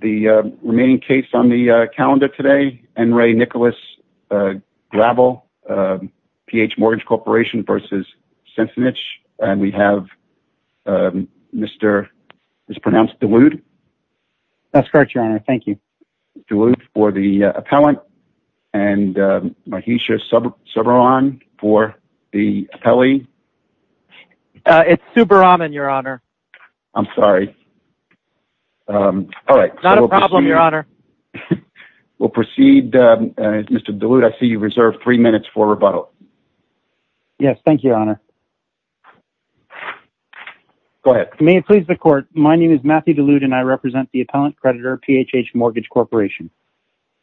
The remaining case on the calendar today, N. Ray Nicholas Gravel, PH Mortgage Corporation v. Sensenich, and we have Mr., mispronounced, DeWood. That's correct, Your Honor. Thank you. DeWood for the appellant, and Mahisha Subbaraman for the appellee. It's Subbaraman, Your Honor. I'm sorry. All right. Not a problem, Your Honor. We'll proceed. Mr. DeWood, I see you've reserved three minutes for rebuttal. Yes, thank you, Your Honor. Go ahead. May it please the Court, my name is Matthew DeWood, and I represent the appellant creditor, PHH Mortgage Corporation.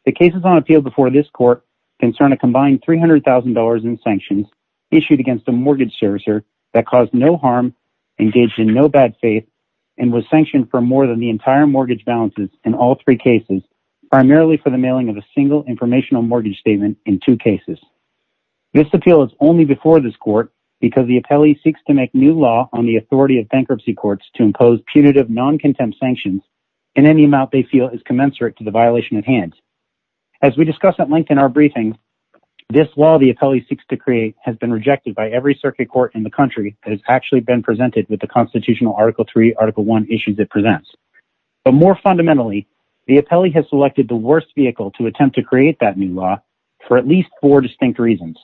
The cases on appeal before this Court concern a combined $300,000 in sanctions issued against a mortgage servicer that caused no harm, engaged in no bad faith, and was sanctioned for more than the entire mortgage balances in all three cases, primarily for the mailing of a single informational mortgage statement in two cases. This appeal is only before this Court because the appellee seeks to make new law on the authority of bankruptcy courts to impose punitive non-contempt sanctions in any amount they feel is commensurate to the violation at hand. As we discussed at length in our briefing, this law the appellee seeks to create has been rejected by every circuit court in the country that has actually been presented with the constitutional Article III, Article I issues it presents. But more fundamentally, the appellee has selected the worst vehicle to attempt to create that new law for at least four distinct reasons.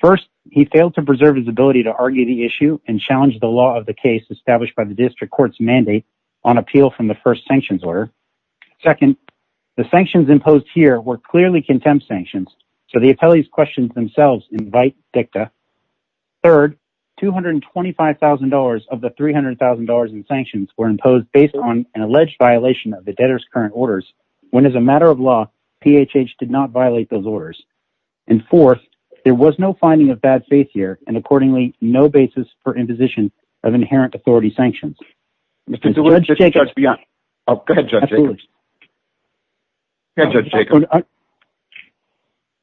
First, he failed to preserve his ability to argue the issue and challenge the law of the case established by the district court's mandate on appeal from the first sanctions order. Second, the sanctions imposed here were clearly contempt sanctions, so the appellee's questions themselves invite dicta. Third, $225,000 of the $300,000 in sanctions were imposed based on an alleged violation of the debtor's current orders, when as a matter of law, PHH did not violate those orders. And fourth, there was no finding of bad faith here, and accordingly, no basis for imposition of inherent authority sanctions. Judge Jacobs,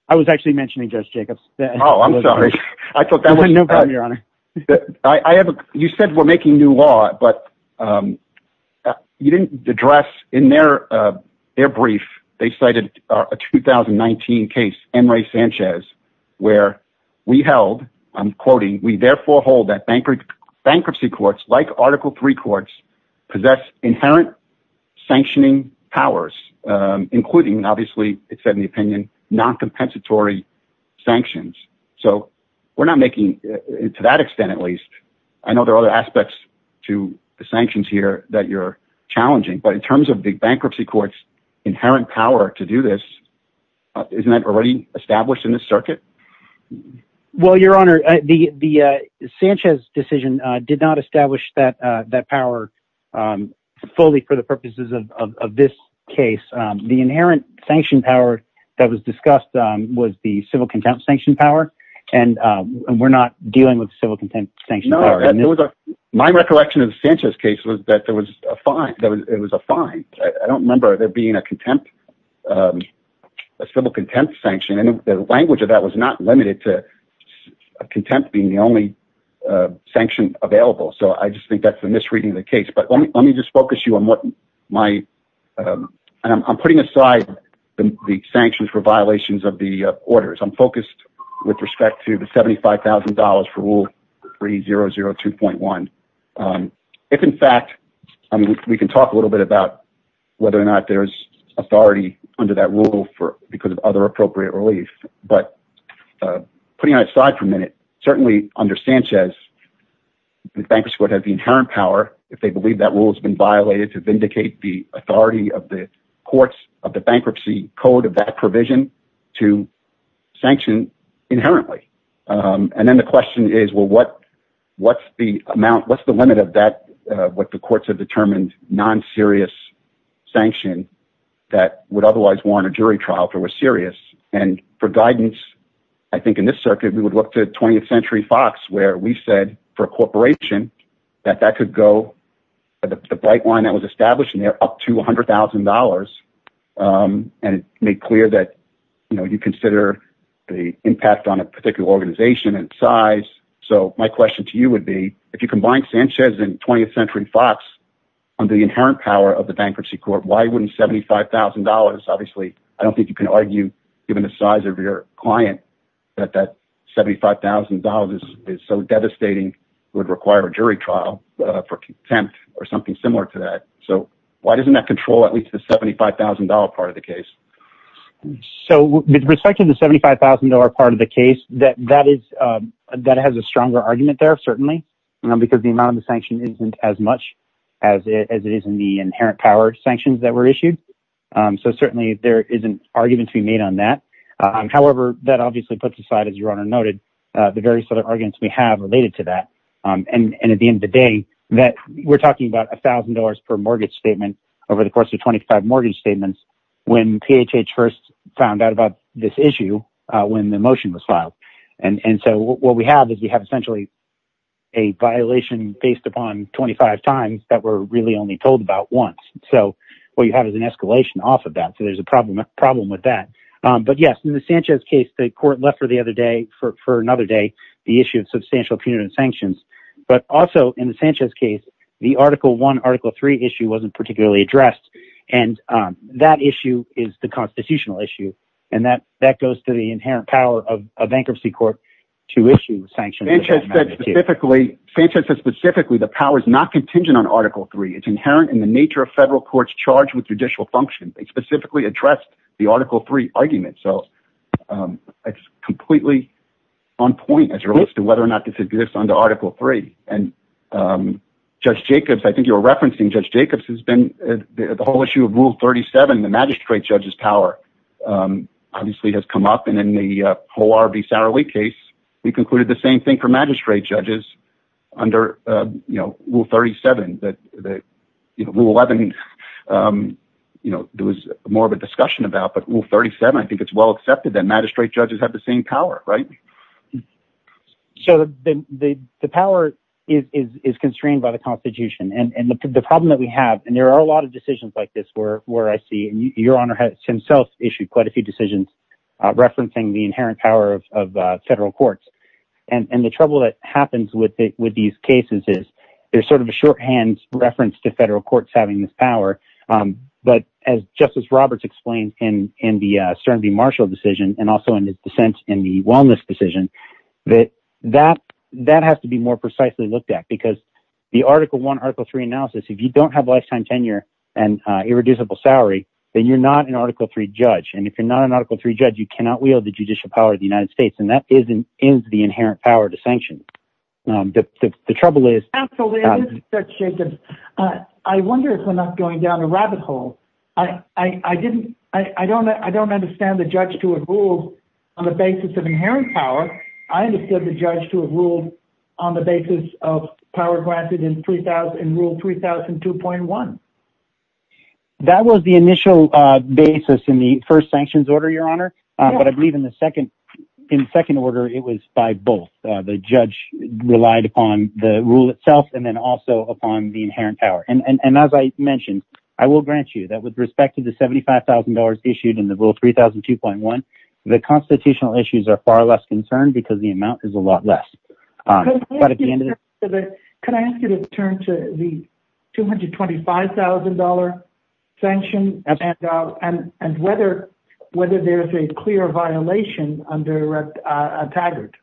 I was actually mentioning Judge Jacobs. Oh, I'm sorry. You said we're making new law, but you didn't address in their brief, they cited a 2019 case, Enrique Sanchez, where we held, I'm quoting, we therefore hold that bankruptcy courts, like Article III courts, possess inherent sanctioning powers, including, obviously, it said in the opinion, non-compensatory sanctions. So we're not making, to that extent, at least, I know there are other aspects to the sanctions here that you're challenging, but in terms of the bankruptcy court's inherent power to do this, isn't that already established in this circuit? Well, Your Honor, the Sanchez decision did not establish that power fully for the purposes of this case. The inherent sanction power that was discussed was the civil contempt sanction power, and we're not dealing with civil contempt sanction power. My recollection of the Sanchez case was that it was a fine. I don't remember there being a civil contempt sanction, and the language of that was not limited to contempt being the only sanction available, so I just think that's a misreading of the case, but let me just focus you on what my, and I'm putting aside the sanctions for violations of the orders. I'm focused with respect to the $75,000 for Rule 3002.1. If in fact, I mean, we can talk a little bit about whether or not there's under that rule because of other appropriate relief, but putting it aside for a minute, certainly under Sanchez, the bankruptcy court has the inherent power, if they believe that rule has been violated, to vindicate the authority of the courts of the bankruptcy code of that provision to sanction inherently, and then the question is, well, what's the amount, what's the limit of that, what the courts have determined non-serious sanction that would otherwise warrant a jury trial if it was serious, and for guidance, I think in this circuit, we would look to 20th Century Fox, where we said for a corporation that that could go, the bright line that was established in there, up to $100,000, and it made clear that, you know, you consider the impact on a particular organization and size, so my question to you would be, if you combine Sanchez and 20th Century Fox under the inherent power of the bankruptcy court, why wouldn't $75,000, obviously, I don't think you can argue, given the size of your client, that that $75,000 is so devastating, would require a jury trial for contempt or something similar to that, so why doesn't that control at least the $75,000 part of the case? So with respect to the $75,000 part of the case, that has a stronger argument there, certainly, because the amount of the sanction isn't as much as it is in the inherent power sanctions that were issued, so certainly there isn't arguments to be made on that, however, that obviously puts aside, as your Honor noted, the various other arguments we have related to that, and at the end of the day, we're talking about $1,000 per mortgage statement over the course of 25 mortgage statements when PHH first found out about this issue when the motion was filed, and so what we have is we have essentially a violation based upon 25 times that were really only told about once, so what you have is an escalation off of that, so there's a problem with that, but yes, in the Sanchez case, the court left for the other day, for another day, the issue of substantial punitive sanctions, but also in the Sanchez case, the Article I, Article III issue wasn't particularly addressed, and that issue is the constitutional issue, and that goes to the inherent power of a bankruptcy court to issue sanctions. Sanchez said specifically the power is not contingent on Article III, it's inherent in the nature of federal courts charged with judicial functions, they specifically addressed the Article III argument, so it's completely on point as it relates to whether or not this exists under Article III, and Judge Jacobs, I think you were referencing Judge Jacobs, the whole issue of Rule 37, the magistrate judge's power obviously has come up, and in the whole R.B. Sowerly case, we concluded the same thing for magistrate judges under Rule 37, Rule 11, there was more of a discussion about, but Rule 37, I think it's well accepted that magistrate judges have the same power, right? So the power is constrained by the Constitution, and the problem that we have, and there are a lot of decisions like this where I see, and Your Honor has himself issued quite a few decisions referencing the inherent power of federal courts, and the trouble that happens with these cases is, there's sort of a shorthand reference to federal courts having this power, but as Justice Roberts explained in the Stern v. Marshall decision, and also in his dissent in the Wellness decision, that that has to be more precisely looked at, because the Article I, Article III analysis, if you don't have lifetime tenure and irreducible salary, then you're not an Article III judge, and if you're not an Article III judge, you cannot wield the judicial power of the United States, and that is the inherent power to sanction. The trouble is... Absolutely, it is, Judge Jacobs. I wonder if we're not going down a rabbit hole. I don't understand the judge to have ruled on the basis of inherent power, I understood the judge to have ruled on the basis of power granted in Rule 3002.1. That was the initial basis in the first sanctions order, Your Honor, but I believe in the second order, it was by both. The judge relied upon the rule itself, and then also upon the inherent power, and as I mentioned, I will grant you that with respect to the $75,000 issued in the Rule 3002.1, the constitutional issues are far less concerned, because the amount is a lot less. Could I ask you to turn to the $225,000 sanction, and whether there's a clear violation under Taggart?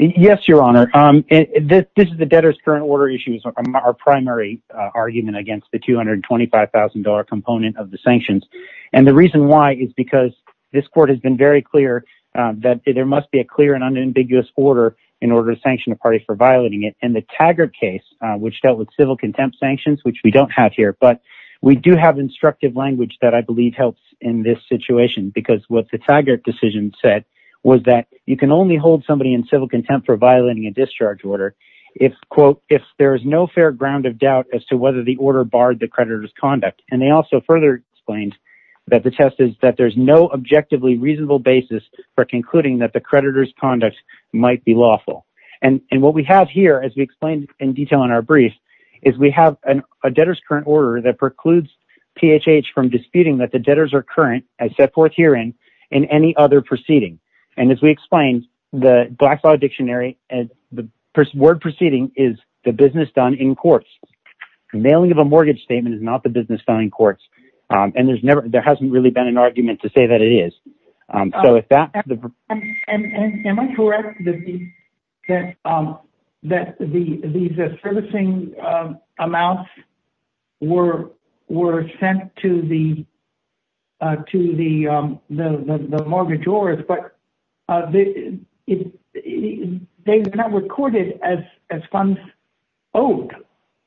Yes, Your Honor. This is the debtor's current order issue, our primary argument against the $225,000 component of the sanctions, and the reason why is because this court has been very clear that there must be a clear and unambiguous order in order to sanction a party for violating it, and the Taggart case, which dealt with civil contempt sanctions, which we don't have here, but we do have instructive language that I believe helps in this situation, because what the Taggart decision said was that you can only hold somebody in civil contempt for violating a discharge order if, quote, if there is no fair ground of doubt as to whether the order barred the creditor's conduct, and they also further explained that the test is that there's no objectively reasonable basis for concluding that the creditor's conduct might be lawful, and what we have here, as we explained in detail in our brief, is we have a debtor's current order that precludes PHH from disputing that the debtors are current, as set forth herein, in any other proceeding, and as we explained, the Blackfriars Dictionary, the word proceeding is the business done in courts. Mailing of a mortgage statement is not the business done in courts, and there's never, there hasn't really been an argument to say that it is, so if that... And am I correct that the servicing amounts were sent to the mortgagors, but they were not recorded as funds owed,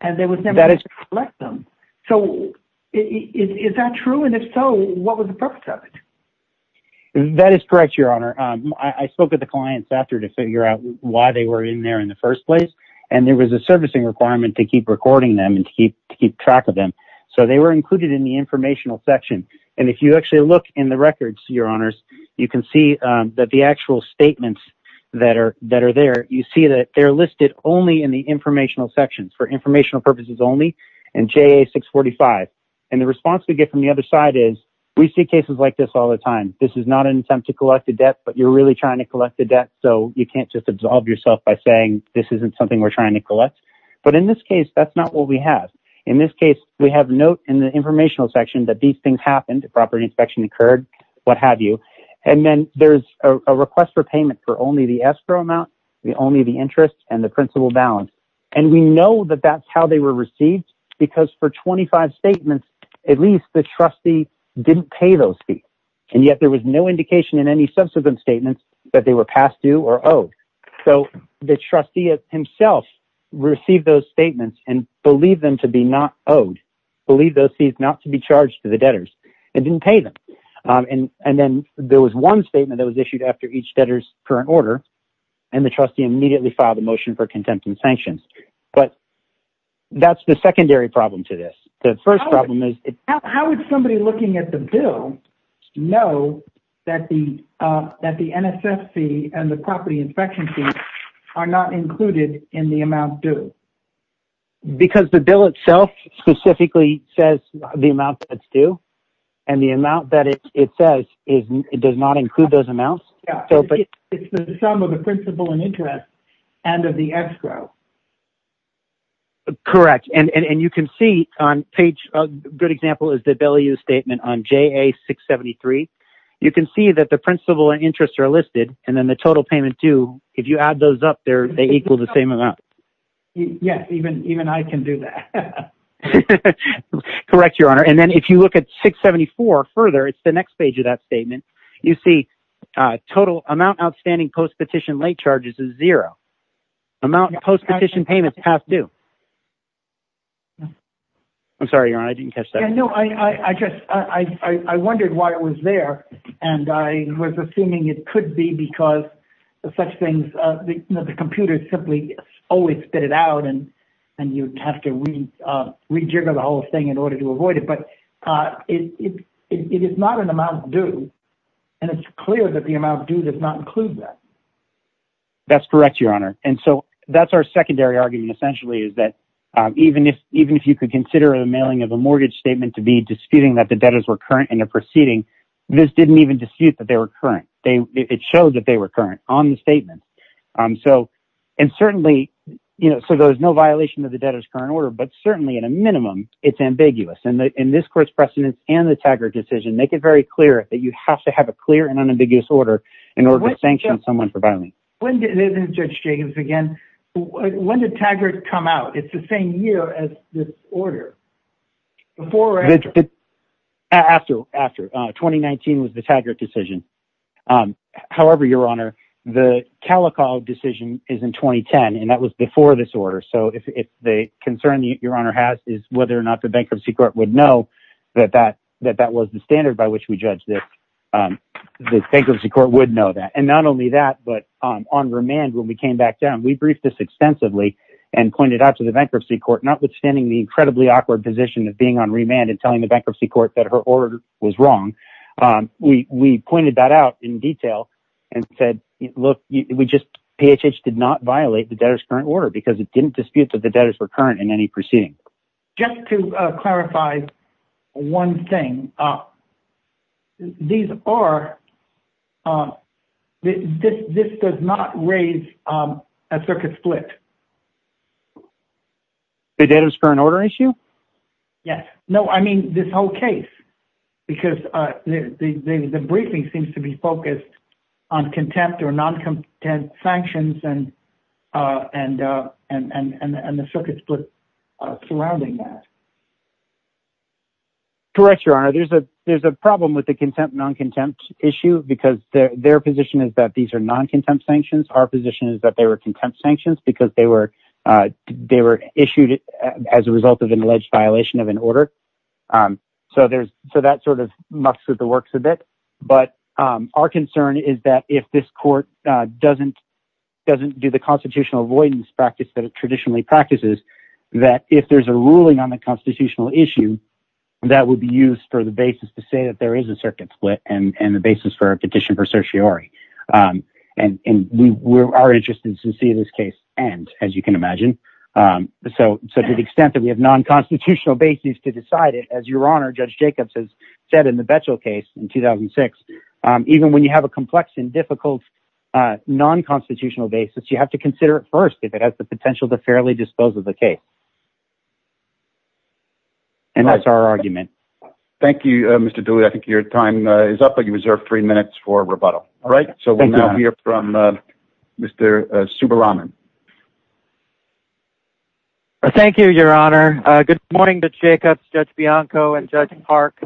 and there was never a way to collect them, so is that true, and if so, what was the purpose of it? That is correct, Your Honor. I spoke with the clients after to figure out why they were in there in the first place, and there was a servicing requirement to keep recording them and to keep track of them, so they were included in the informational section, and if you actually look in the records, Your Honors, you can see that the actual statements that are there, you see that they're listed only in the informational sections, for informational purposes only, and JA-645, and the response we get from the other side is, we see cases like all the time. This is not an attempt to collect a debt, but you're really trying to collect a debt, so you can't just absolve yourself by saying, this isn't something we're trying to collect, but in this case, that's not what we have. In this case, we have note in the informational section that these things happened, a property inspection occurred, what have you, and then there's a request for payment for only the escrow amount, only the interest, and the principal balance, and we know that that's how they were received, because for 25 statements, at least the trustee didn't pay those fees, and yet there was no indication in any subsequent statements that they were past due or owed, so the trustee himself received those statements, and believed them to be not owed, believed those fees not to be charged to the debtors, and didn't pay them, and then there was one statement that was issued after each debtor's current order, and the trustee immediately filed a motion for contempt and sanctions, but that's the secondary problem to this. The first problem is... How would somebody looking at the bill know that the NSF fee and the property inspection fee are not included in the amount due? Because the bill itself specifically says the amount that's due, and the amount that it says, it does not include those amounts. It's the sum of the principal and interest, and of the escrow. Correct, and you can see on page... A good example is the value statement on JA673. You can see that the principal and interest are listed, and then the total payment due, if you add those up, they're equal to the same amount. Yes, even I can do that. Correct, Your Honor, and then if you look at 674 further, it's the next page of that statement, you see total amount outstanding post-petition late charges is zero. Amount of post-petition payments passed due. I'm sorry, Your Honor, I didn't catch that. Yeah, no, I just... I wondered why it was there, and I was assuming it could be because such things... The computers simply always spit it out, and you'd have to rejigger the thing in order to avoid it, but it is not an amount due, and it's clear that the amount due does not include that. That's correct, Your Honor, and so that's our secondary argument, essentially, is that even if you could consider the mailing of a mortgage statement to be disputing that the debtors were current in their proceeding, this didn't even dispute that they were current. It showed that they were current on the statement. And certainly, so there's no violation of the debtor's current order, but certainly, at a minimum, it's ambiguous, and in this court's precedence and the Taggart decision, make it very clear that you have to have a clear and unambiguous order in order to sanction someone for violence. When did... Judge Jacobs, again, when did Taggart come out? It's the same year as this order. Before or after? After. After. 2019 was the Taggart decision. However, Your Honor, the Calico decision is in whether or not the Bankruptcy Court would know that that was the standard by which we judged it. The Bankruptcy Court would know that, and not only that, but on remand, when we came back down, we briefed this extensively and pointed out to the Bankruptcy Court, notwithstanding the incredibly awkward position of being on remand and telling the Bankruptcy Court that her order was wrong, we pointed that out in detail and said, look, we just... PHH did not violate the debtor's current Just to clarify one thing, these are... This does not raise a circuit split. The debtor's current order issue? Yes. No, I mean this whole case, because the briefing seems to be focused on contempt or non-contempt sanctions and and the circuit split surrounding that. Correct, Your Honor. There's a problem with the contempt, non-contempt issue because their position is that these are non-contempt sanctions. Our position is that they were contempt sanctions because they were issued as a result of an alleged violation of an order. So that sort of mucks with the works a bit. But our concern is that if this court doesn't do the constitutional avoidance practice that it traditionally practices, that if there's a ruling on the constitutional issue, that would be used for the basis to say that there is a circuit split and the basis for a petition for certiorari. And we are interested to see this case end, as you can imagine. So to the extent that we have non-constitutional basis to decide it, as Your Honor, Judge Jacobs has said in the Betchell case in 2006, even when you have a complex and difficult non-constitutional basis, you have to consider it first if it has the potential to fairly dispose of the case. And that's our argument. Thank you, Mr. Dooley. I think your time is up, but you reserve three minutes for rebuttal. All right, so we'll now hear from Mr. Subbaraman. Thank you, Your Honor. Good morning, Judge Jacobs, Judge Bianco, and Judge Park.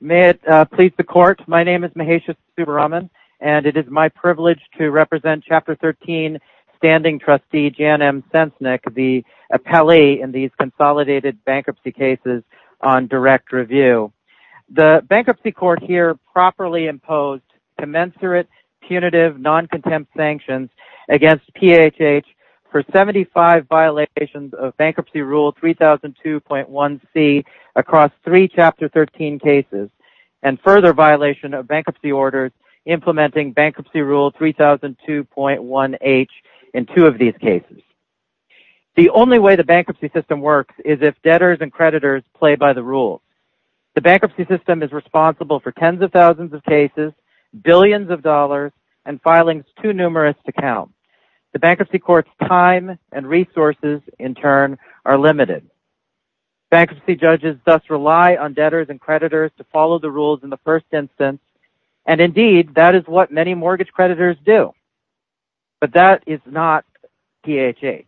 May it please the court, my name is Mahesh Subbaraman, and it is my privilege to represent Chapter 13 Standing Trustee Jan M. Sensnick, the appellee in these consolidated bankruptcy cases on direct review. The bankruptcy court here properly imposed commensurate, punitive, non-contempt sanctions against PHH for 75 violations of bankruptcy rule 3002.1c across three Chapter 13 cases and further violation of bankruptcy orders implementing bankruptcy rule 3002.1h in two of these cases. The only way the bankruptcy system works is if debtors and creditors play by the rules. The bankruptcy system is responsible for tens of thousands of cases, billions of dollars, and filings too numerous to count. The bankruptcy court's time and resources, in turn, are limited. Bankruptcy judges thus rely on debtors and creditors to follow the rules in the first instance, and indeed, that is what many mortgage creditors do. But that is not PHH.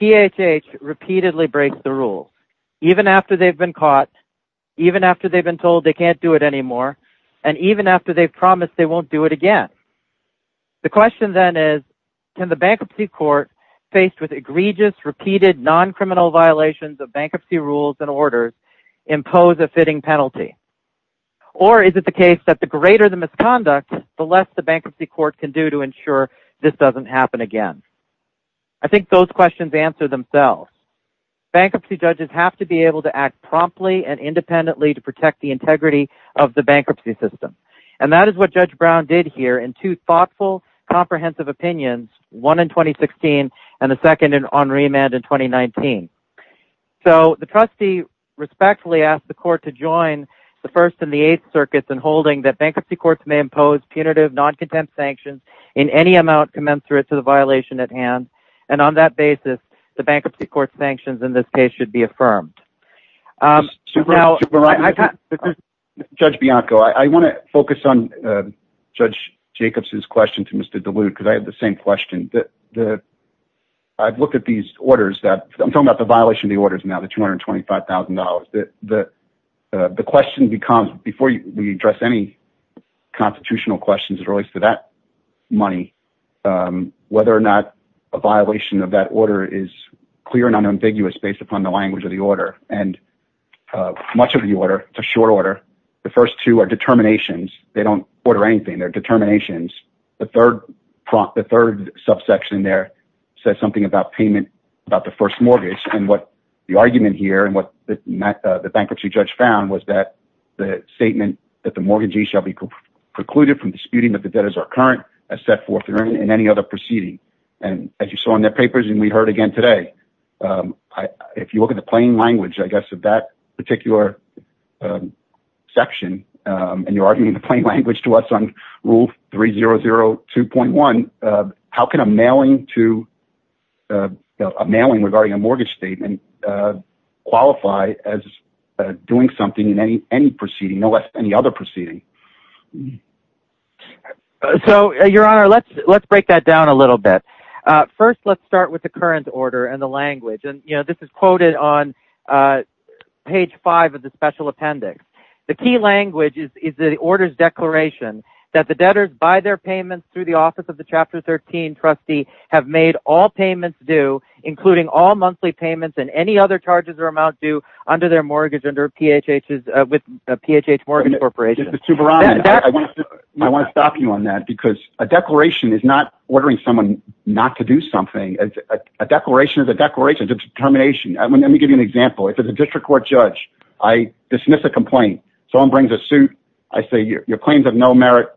PHH repeatedly breaks the rule, even after they've been caught, even after they've been told they can't do it anymore, and even after they've promised they faced with egregious, repeated, non-criminal violations of bankruptcy rules and orders impose a fitting penalty. Or is it the case that the greater the misconduct, the less the bankruptcy court can do to ensure this doesn't happen again? I think those questions answer themselves. Bankruptcy judges have to be able to act promptly and independently to protect the integrity of the bankruptcy system, and that is what Judge Brown did here in two thoughtful, comprehensive opinions, one in 2016 and the second on remand in 2019. So the trustee respectfully asked the court to join the First and the Eighth Circuits in holding that bankruptcy courts may impose punitive, non-contempt sanctions in any amount commensurate to the violation at hand, and on that basis, the bankruptcy court's sanctions in this case should be affirmed. Um, Judge Bianco, I want to focus on Judge Jacobs's question to Mr. DeLude because I have the same question. I've looked at these orders that I'm talking about the violation of the orders now, the $225,000. The question becomes, before we address any constitutional questions that relates to that money, whether or not a violation of that order is clear and unambiguous based upon the and much of the order, it's a short order. The first two are determinations. They don't order anything. They're determinations. The third prompt, the third subsection there says something about payment about the first mortgage and what the argument here and what the bankruptcy judge found was that the statement that the mortgagee shall be precluded from disputing that the debt is our current as set forth in any other proceeding and as you saw in their papers and we heard again today. Um, I, if you look at the plain language, I guess at that particular, um, section, um, and you're arguing the plain language to us on rule three zero zero 2.1. Uh, how can a mailing to, uh, a mailing regarding a mortgage statement, uh, qualify as, uh, doing something in any, any proceeding, no less than the other proceeding. So your honor, let's, let's break that down a and the language and you know, this is quoted on, uh, page five of the special appendix. The key language is, is the orders declaration that the debtors by their payments through the office of the chapter 13 trustee have made all payments due including all monthly payments and any other charges or amount due under their mortgage under PHHS, uh, with a PHH mortgage corporation. I want to stop you on that because a declaration is not ordering someone not to do something as a declaration of the declaration of determination. Let me give you an example. If it's a district court judge, I dismiss a complaint. Someone brings a suit. I say your claims have no merit.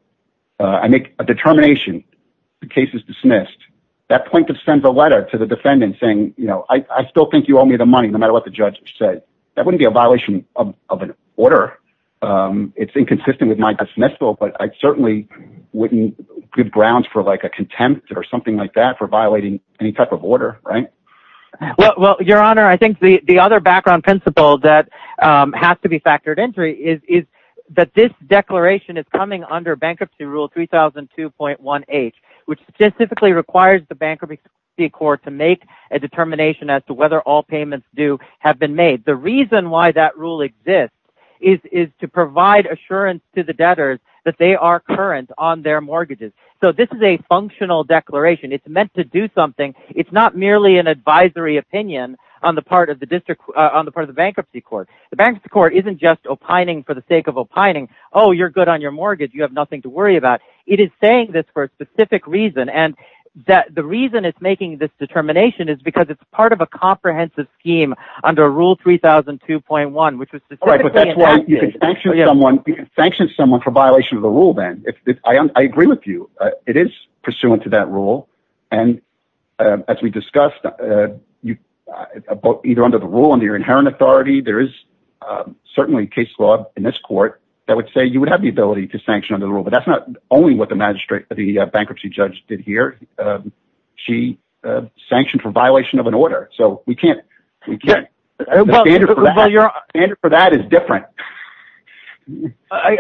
Uh, I make a determination. The case is dismissed. That plaintiff sends a letter to the defendant saying, you know, I still think you owe me the money, no matter what the judge said, that wouldn't be a violation of an order. Um, it's inconsistent with my dismissal, but I certainly wouldn't give grounds for like a contempt or something like that for violating any type of order. Right? Well, your honor, I think the, the other background principle that, um, has to be factored entry is, is that this declaration is coming under bankruptcy rule 3,002.1 H, which specifically requires the bankruptcy court to make a determination as to whether all payments do have been made. The reason why that rule exists is, is to provide assurance to the debtors that they are current on their mortgages. So this is a functional declaration. It's meant to do something. It's not merely an advisory opinion on the part of the district, uh, on the part of the bankruptcy court, the bank's court, isn't just opining for the sake of opining. Oh, you're good on your mortgage. You have nothing to worry about. It is saying this for a specific reason. And that the reason it's making this determination is because it's part of a comprehensive scheme under rule 3,002.1, which was you can sanction someone for violation of the rule. Then if I, I agree with you, it is pursuant to that rule. And, um, as we discussed, uh, you, uh, either under the rule under your inherent authority, there is, um, certainly case law in this court that would say you would have the ability to sanction under the rule, but that's not only what the magistrate, the bankruptcy judge did here. Um, she, uh, sanctioned for violation of an order. So we can't, I don't know. The standard for that is different.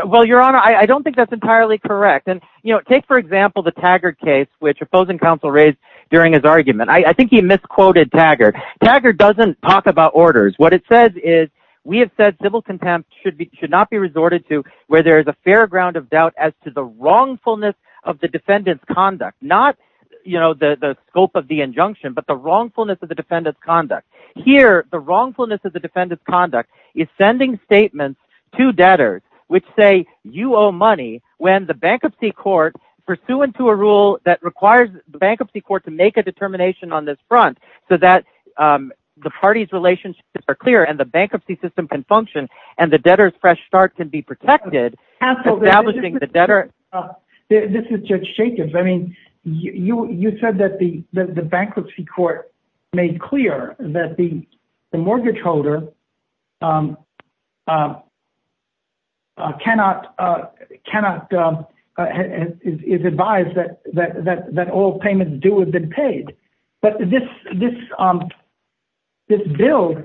Well, your honor, I don't think that's entirely correct. And, you know, take, for example, the Taggart case, which opposing counsel raised during his argument. I think he misquoted Taggart. Taggart doesn't talk about orders. What it says is we have said civil contempt should be, should not be resorted to where there is a fair ground of doubt as to the wrongfulness of the defendant's conduct. Not, you know, the, the scope of the injunction, but the wrongfulness of the defendant's conduct is sending statements to debtors, which say you owe money when the bankruptcy court pursuant to a rule that requires the bankruptcy court to make a determination on this front. So that, um, the party's relationships are clear and the bankruptcy system can function and the debtors fresh start can be protected. This is judge Jacobs. I mean, you, you said that the bankruptcy court made clear that the mortgage holder, um, uh, uh, cannot, uh, cannot, um, uh, is advised that, that, that, that all payments do have been paid, but this, this, um, this bill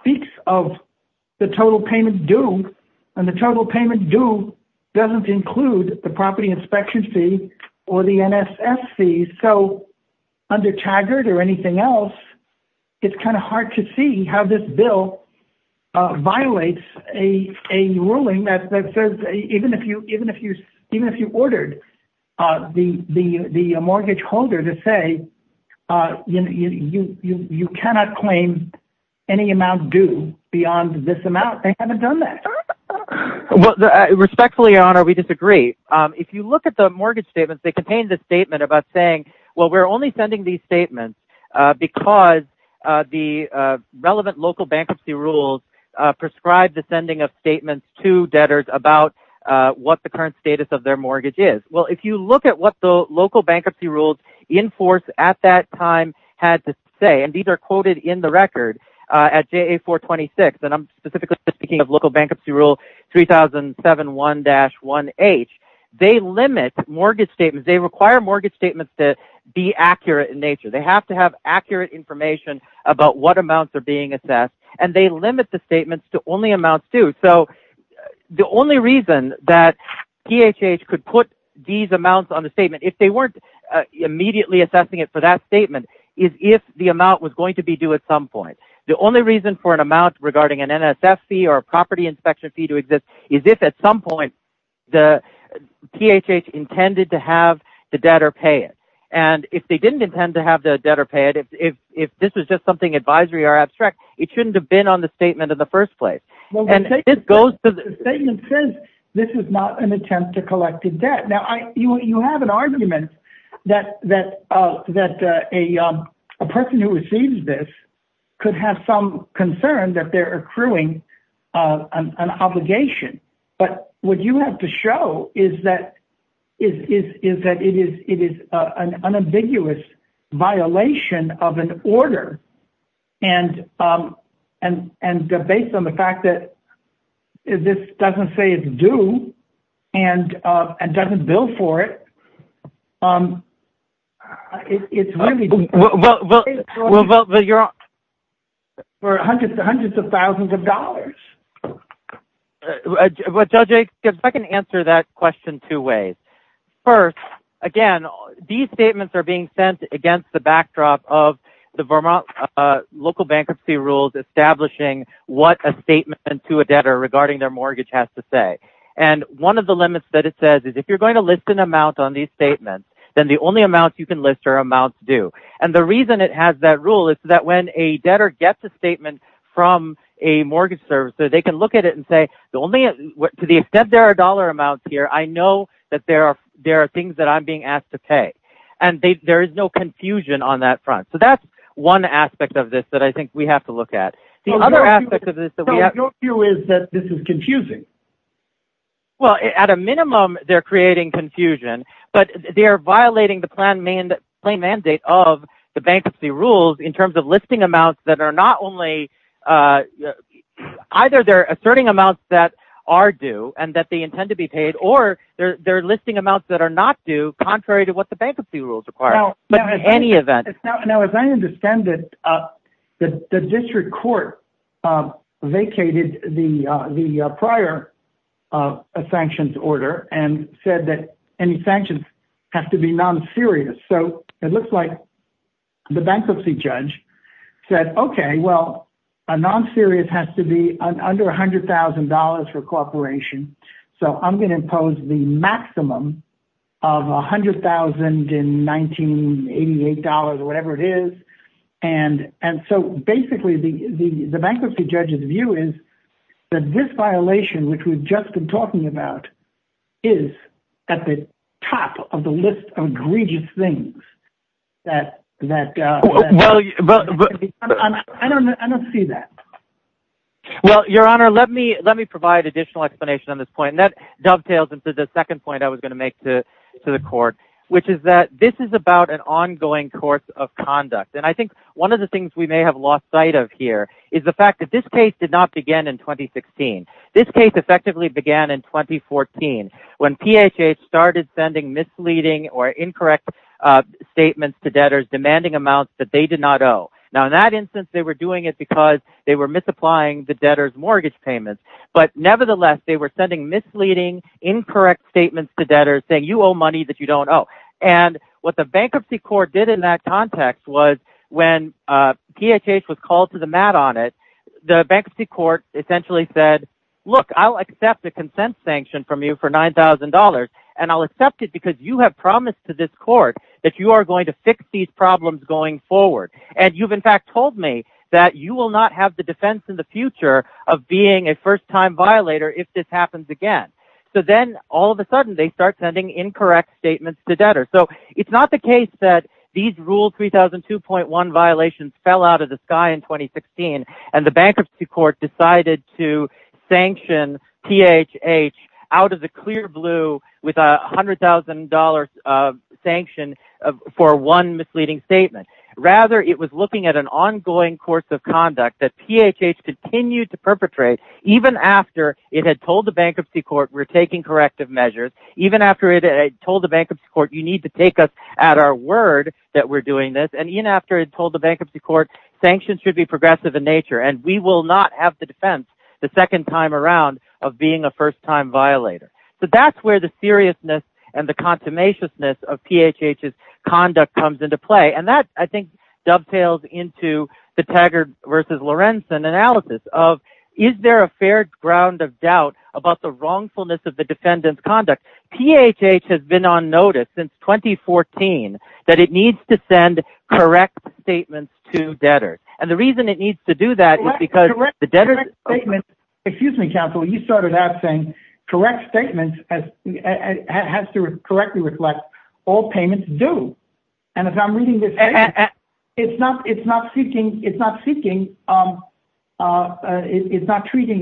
speaks of the total payment due and the total payment due doesn't include the property inspection fee or the NSF fees. So under Taggart or anything else, it's kind of hard to see how this bill, uh, violates a, a ruling that says, even if you, even if you, even if you ordered, uh, the, the, the, uh, mortgage holder to say, uh, you, you, you, you cannot claim any amount due beyond this amount. They haven't done that. Respectfully honor, we disagree. Um, if you look at the mortgage statements, they contain the statement about saying, well, we're only sending these statements, uh, because, uh, the, uh, relevant local bankruptcy rules, uh, prescribe the sending of statements to debtors about, uh, what the current status of their mortgage is. Well, if you look at what the local bankruptcy rules in force at that time had to say, and these are quoted in the record, uh, at JA 426, and I'm specifically speaking of local bankruptcy rule 3,007, one dash one H they limit mortgage statements. They require mortgage statements to be accurate in nature. They have to have accurate information about what amounts are being assessed. And they limit the statements to only amounts due. So the only reason that DHH could put these amounts on the statement, if they weren't immediately assessing it for that statement is if the amount was going to be due at some point, the only reason for an amount regarding an NSF fee or a property inspection fee to exist is if at some point the DHH intended to have the debtor pay it. And if they didn't intend to have the debtor pay it, if, if, if this was just something advisory or abstract, it shouldn't have been on the statement in the first place. And this goes to the statement says, this is not an attempt to collect a debt. Now I, you, you have an argument that, that, uh, that, uh, a, um, a person who receives this could have some concern that they're accruing, uh, an obligation, but what you have to show is that is, is, is that it is, it is, uh, an unambiguous violation of an order. And, um, and, and based on the fact that this doesn't say it's due and, uh, and doesn't bill for it, um, it's really... Well, well, well, well, you're on... For hundreds and hundreds of thousands of dollars. Well, Judge, if I can answer that question two ways. First, again, these statements are being sent against the backdrop of the Vermont, uh, local bankruptcy rules, establishing what a statement to a debtor regarding their mortgage has to say. And one of the limits that it says is if you're going to list an amount on these statements, then the only amounts you can list are amounts due. And the reason it has that rule is that when a debtor gets a statement from a mortgage service, so they can look at it and say, the only, to the extent there are dollar amounts here, I know that there are, there are things that I'm being asked to pay. And they, there is no confusion on that front. So that's one aspect of this that I think we have to look at. The other aspect of this that we have... So your view is that this is confusing? Well, at a minimum, they're creating confusion, but they're violating the plan, main claim mandate of the bankruptcy rules in terms of listing amounts that are not only, uh, either they're asserting amounts that are due and that they intend to be paid, or they're, they're listing amounts that are not due contrary to what the bankruptcy rules require. But in any event... Vacated the, uh, the, uh, prior, uh, uh, sanctions order and said that any sanctions have to be non-serious. So it looks like the bankruptcy judge said, okay, well, a non-serious has to be under a hundred thousand dollars for cooperation. So I'm going to impose the maximum of a hundred thousand in 1988 dollars or whatever it is. And, and so basically the, the, the bankruptcy judge's view is that this violation, which we've just been talking about is at the top of the list of egregious things that, that, uh, I don't, I don't see that. Well, your honor, let me, let me provide additional explanation on this point. That was the second point I was going to make to the court, which is that this is about an ongoing course of conduct. And I think one of the things we may have lost sight of here is the fact that this case did not begin in 2016. This case effectively began in 2014 when PHA started sending misleading or incorrect statements to debtors demanding amounts that they did not owe. Now, in that instance, they were doing it because they were misapplying the debtor's mortgage payments, but nevertheless, they were sending misleading, incorrect statements to debtors saying, you owe money that you don't owe. And what the bankruptcy court did in that context was when, uh, PHA was called to the mat on it, the bankruptcy court essentially said, look, I'll accept the consent sanction from you for $9,000. And I'll accept it because you have promised to this court that you are going to fix these problems going forward. And you've in fact told me that you will not have the defense in the future of being a first time violator if this happens again. So then all of a sudden they start sending incorrect statements to debtor. So it's not the case that these rules, 3,002.1 violations fell out of the sky in 2016. And the bankruptcy court decided to sanction PHA out of the clear blue with a hundred thousand dollars of sanction for one misleading statement. Rather, it was looking at an ongoing course of conduct that PHA continued to perpetrate even after it had told the bankruptcy court, we're taking corrective measures. Even after it had told the bankruptcy court, you need to take us at our word that we're doing this. And even after it told the bankruptcy court sanctions should be progressive in nature, and we will not have the defense the second time around of being a first time violator. So that's where the seriousness and the consummation of PHA's conduct comes into play. And that I think dovetails into the Taggart versus Lorenzen analysis of, is there a fair ground of doubt about the wrongfulness of the defendant's conduct? PHA has been on notice since 2014 that it needs to send correct statements to debtors. And the reason it needs to do that is the debtor's statement, excuse me, counsel, you started out saying correct statements has to correctly reflect all payments due. And if I'm reading this, it's not seeking, it's not treating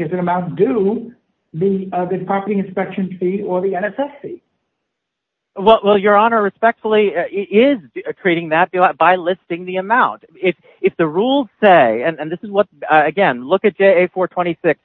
as an amount due the property inspection fee or the NSF fee. Well, your honor, respectfully, it is treating that by listing the amount. If the rules say, and this is what, again, look at JA 426,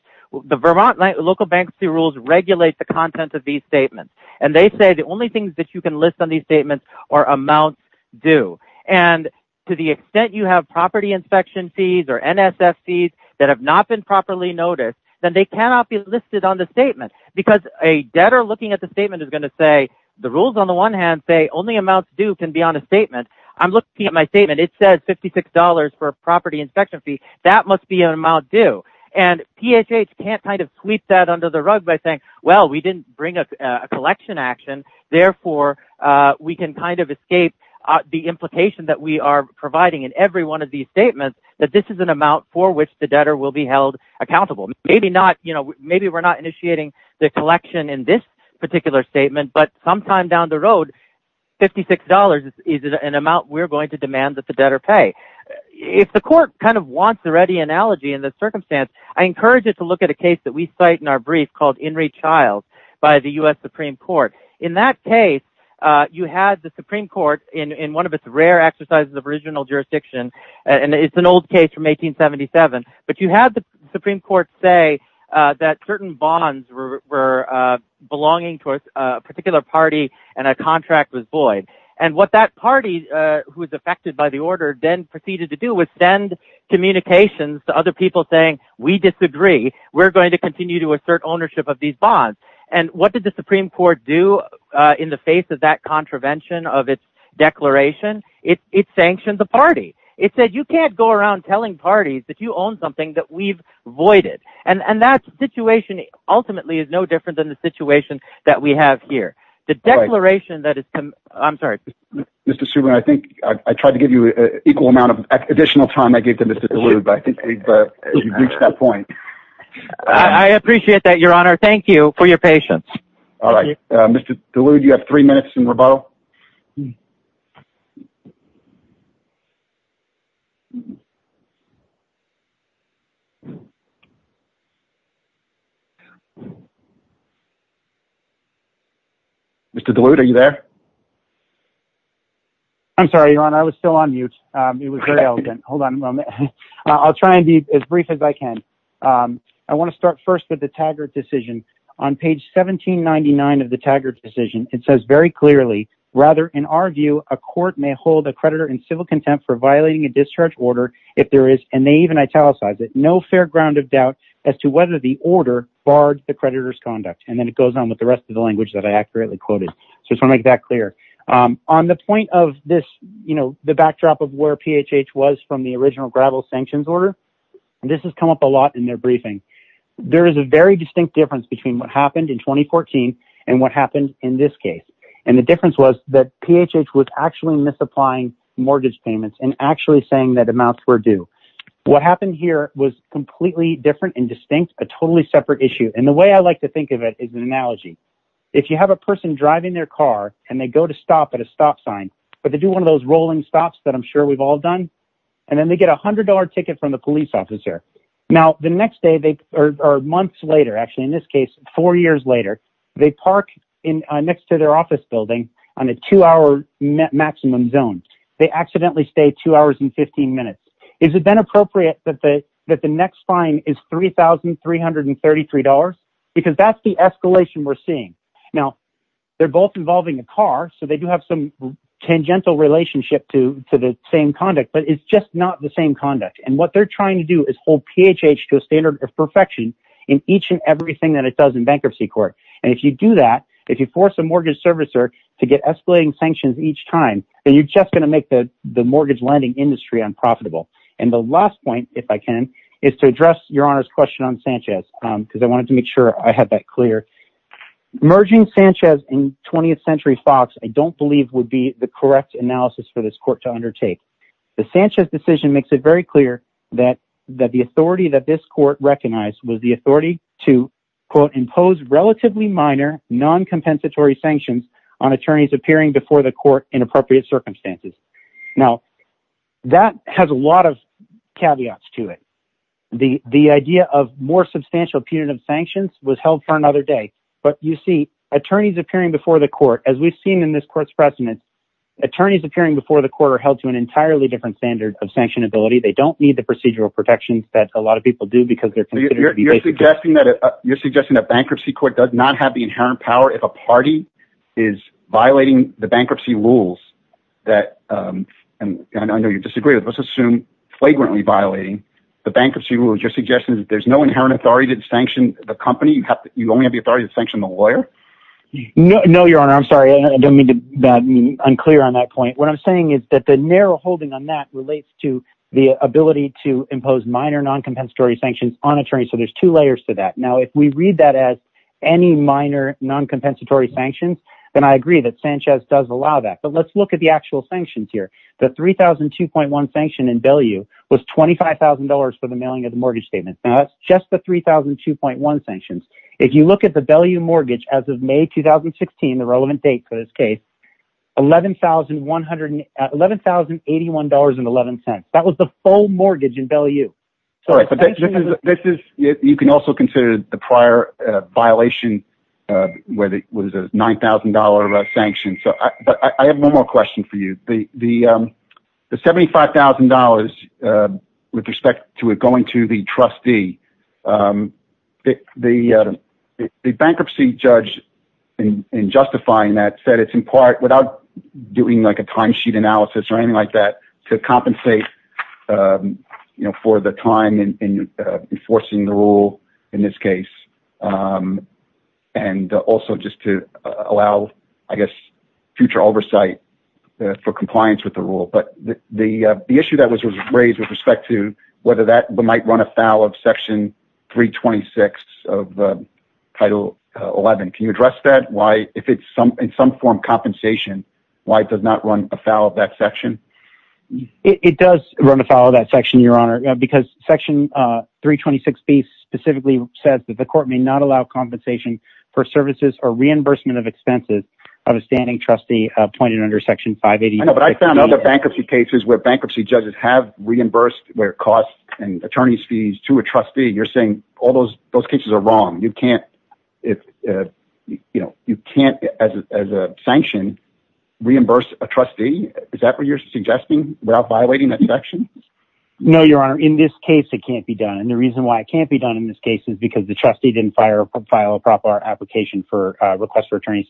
the Vermont local bankruptcy rules regulate the content of these statements. And they say the only things that you can list on these statements are amounts due. And to the extent you have property inspection fees or NSF fees that have not been properly noticed, then they cannot be listed on the statement because a debtor looking at the statement is going to say, the rules on the one hand say only amounts due can be on a statement. I'm looking at my statement, it says $56 for a property inspection fee. That must be an amount due. And PHA can't kind of sweep that under the rug by saying, well, we didn't bring a collection action. Therefore, we can kind of escape the implication that we are providing in every one of these statements, that this is an amount for which the debtor will be held accountable. Maybe we're not initiating the collection in this particular statement, but sometime down the road, $56 is an amount we're going to demand that the debtor pay. If the court kind of wants a ready analogy in this circumstance, I encourage you to look at a case that we cite in our brief called Henry Childs by the US Supreme Court. In that case, you had the Supreme Court in one of its rare exercises of original jurisdiction, and it's an old case from 1877. But you had the were belonging to a particular party and a contract was void. And what that party who was affected by the order then proceeded to do was send communications to other people saying, we disagree, we're going to continue to assert ownership of these bonds. And what did the Supreme Court do in the face of that contravention of its declaration? It sanctioned the party. It said, you can't go around telling parties that you own something that we've voided. And that situation ultimately is no different than the situation that we have here. The declaration that is, I'm sorry, Mr. Suman. I think I tried to give you an equal amount of additional time. I gave them this to dilute, but I think we've reached that point. I appreciate that. Your honor, I was still on mute. It was very elegant. Hold on a moment. I'll try and be as brief as I can. I want to start first with the tagger decision on page 1799 of the tagger decision. It says very clearly, rather in our view, a court may hold a creditor in civil contempt for violating a discharge order if there is, and they even italicize it, no fair ground of doubt as to whether the order barred the creditor's conduct. And then it goes on with the rest of the language that I accurately quoted. So I just want to make that clear. On the point of this, you know, the backdrop of where PHH was from the original gravel sanctions order, this has come up a lot in their briefing. There is a very distinct difference between what happened in 2014 and what happened in this case. And the difference was that PHH was actually misapplying mortgage payments and actually saying that amounts were due. What happened here was completely different and distinct, a totally separate issue. And the way I like to think of it is an analogy. If you have a person driving their car and they go to stop at a stop sign, but they do one of those rolling stops that I'm sure we've all done. And then they get a hundred dollar ticket from the police officer. Now the next day, they are months later, actually in this case, four years later, they park in next to their office building on a two hour maximum zone. They accidentally stay two hours and 15 minutes. Is it then appropriate that the next fine is $3,333? Because that's the escalation we're seeing. Now they're both involving a car, so they do have some tangential relationship to the same conduct, but it's just not the same conduct. And what they're trying to do is hold PHH to a standard of perfection in each and everything that it does in bankruptcy court. And if you do that, if you force a mortgage servicer to get escalating sanctions each time, then you're just going to make the mortgage lending industry unprofitable. And the last point, if I can, is to address your honor's question on Sanchez, because I wanted to make sure I had that clear. Merging Sanchez and 20th century Fox, I don't believe would be the correct analysis for this court to undertake. The Sanchez decision makes it very clear that the authority that this court recognized was the authority to quote, impose relatively minor non-compensatory sanctions on attorneys appearing before the court in appropriate circumstances. Now that has a lot of caveats to it. The idea of more substantial punitive sanctions was held for another day, but you see attorneys appearing before the court, as we've seen in this court's precedence, attorneys appearing before the court held to an entirely different standard of sanctionability. They don't need the procedural protections that a lot of people do because they're... You're suggesting that bankruptcy court does not have the inherent power if a party is violating the bankruptcy rules that, and I know you disagree with, let's assume flagrantly violating the bankruptcy rules. You're suggesting that there's no inherent authority to sanction the company. You only have the authority to sanction the lawyer? No, your honor. I'm sorry. I don't mean to unclear on that point. What I'm saying is that the narrow holding on that relates to the ability to impose minor non-compensatory sanctions on attorneys. So there's two layers to that. Now, if we read that as any minor non-compensatory sanctions, then I agree that Sanchez does allow that, but let's look at the actual sanctions here. The 3,002.1 sanction in Bellew was $25,000 for the mailing of the mortgage statements. Now that's just the 3,002.1 sanctions. If you look at the Bellew mortgage as of May, 2016, the relevant date for this case, $11,081.11. That was the full mortgage in Bellew. You can also consider the prior violation where it was a $9,000 sanction. But I have one more The bankruptcy judge in justifying that said it's in part without doing like a timesheet analysis or anything like that to compensate for the time in enforcing the rule in this case. And also just to allow, I guess, future oversight for compliance with the rule. But the issue that was raised with respect to whether that might run afoul of section 326 of title 11. Can you address that? If it's in some form compensation, why does not run afoul of that section? It does run afoul of that section, your honor, because section 326B specifically says that the court may not allow compensation for services or reimbursement of expenses of a standing trustee pointed under section 580. I know, but I found other bankruptcy cases where bankruptcy judges have reimbursed their costs and attorney's fees to a trustee. You're saying all those cases are wrong. You can't as a sanction reimburse a trustee. Is that what you're suggesting without violating that section? No, your honor. In this case, it can't be done. And the reason why it can't be done in this case is because the trustee didn't file a proper application for a request for fees.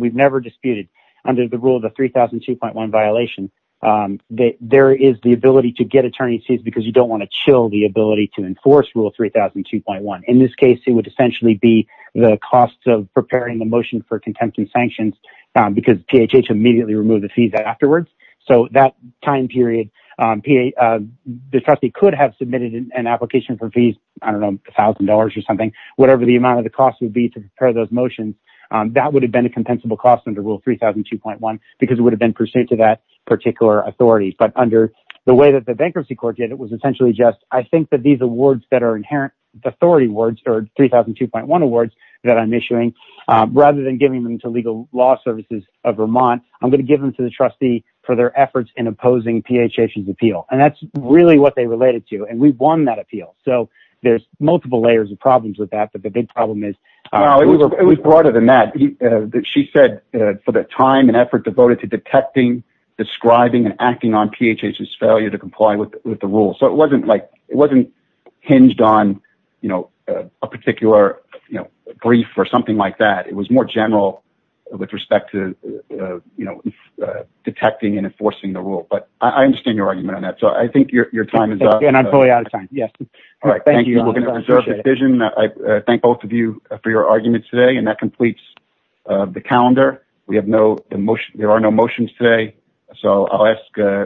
We've never disputed under the rule of the 3,002.1 violation. There is the ability to get attorney's fees because you don't want to chill the ability to enforce rule 3,002.1. In this case, it would essentially be the cost of preparing the motion for contempt and sanctions because PHH immediately removed the fees afterwards. So that time period, the trustee could have submitted an application for fees, I don't know, $1,000 or something, whatever the amount of the cost would be to prepare those motions. That would have been a compensable cost under rule 3,002.1 because it would have been pursuant to that particular authority. But under the way that the bankruptcy court did, it was essentially just, I think that these awards that are inherent authority awards or 3,002.1 awards that I'm issuing, rather than giving them to legal law services of Vermont, I'm going to give them to the trustee for their efforts in opposing PHH's appeal. And that's really what they related to. And we've won that appeal. So there's multiple layers of problems with that. But the big problem is- No, it was broader than that. She said for the time and effort devoted to detecting, describing, and acting on PHH's failure to comply with the rule. So it wasn't hinged on a particular brief or something like that. It was more general with respect to detecting and enforcing the rule. But I understand your argument on that. So I think your time is up. And I'm fully out of time. Yes. All right. Thank you. We're going to preserve the vision. I thank both of you for your argument today. And that completes the calendar. There are no motions today. So I'll ask-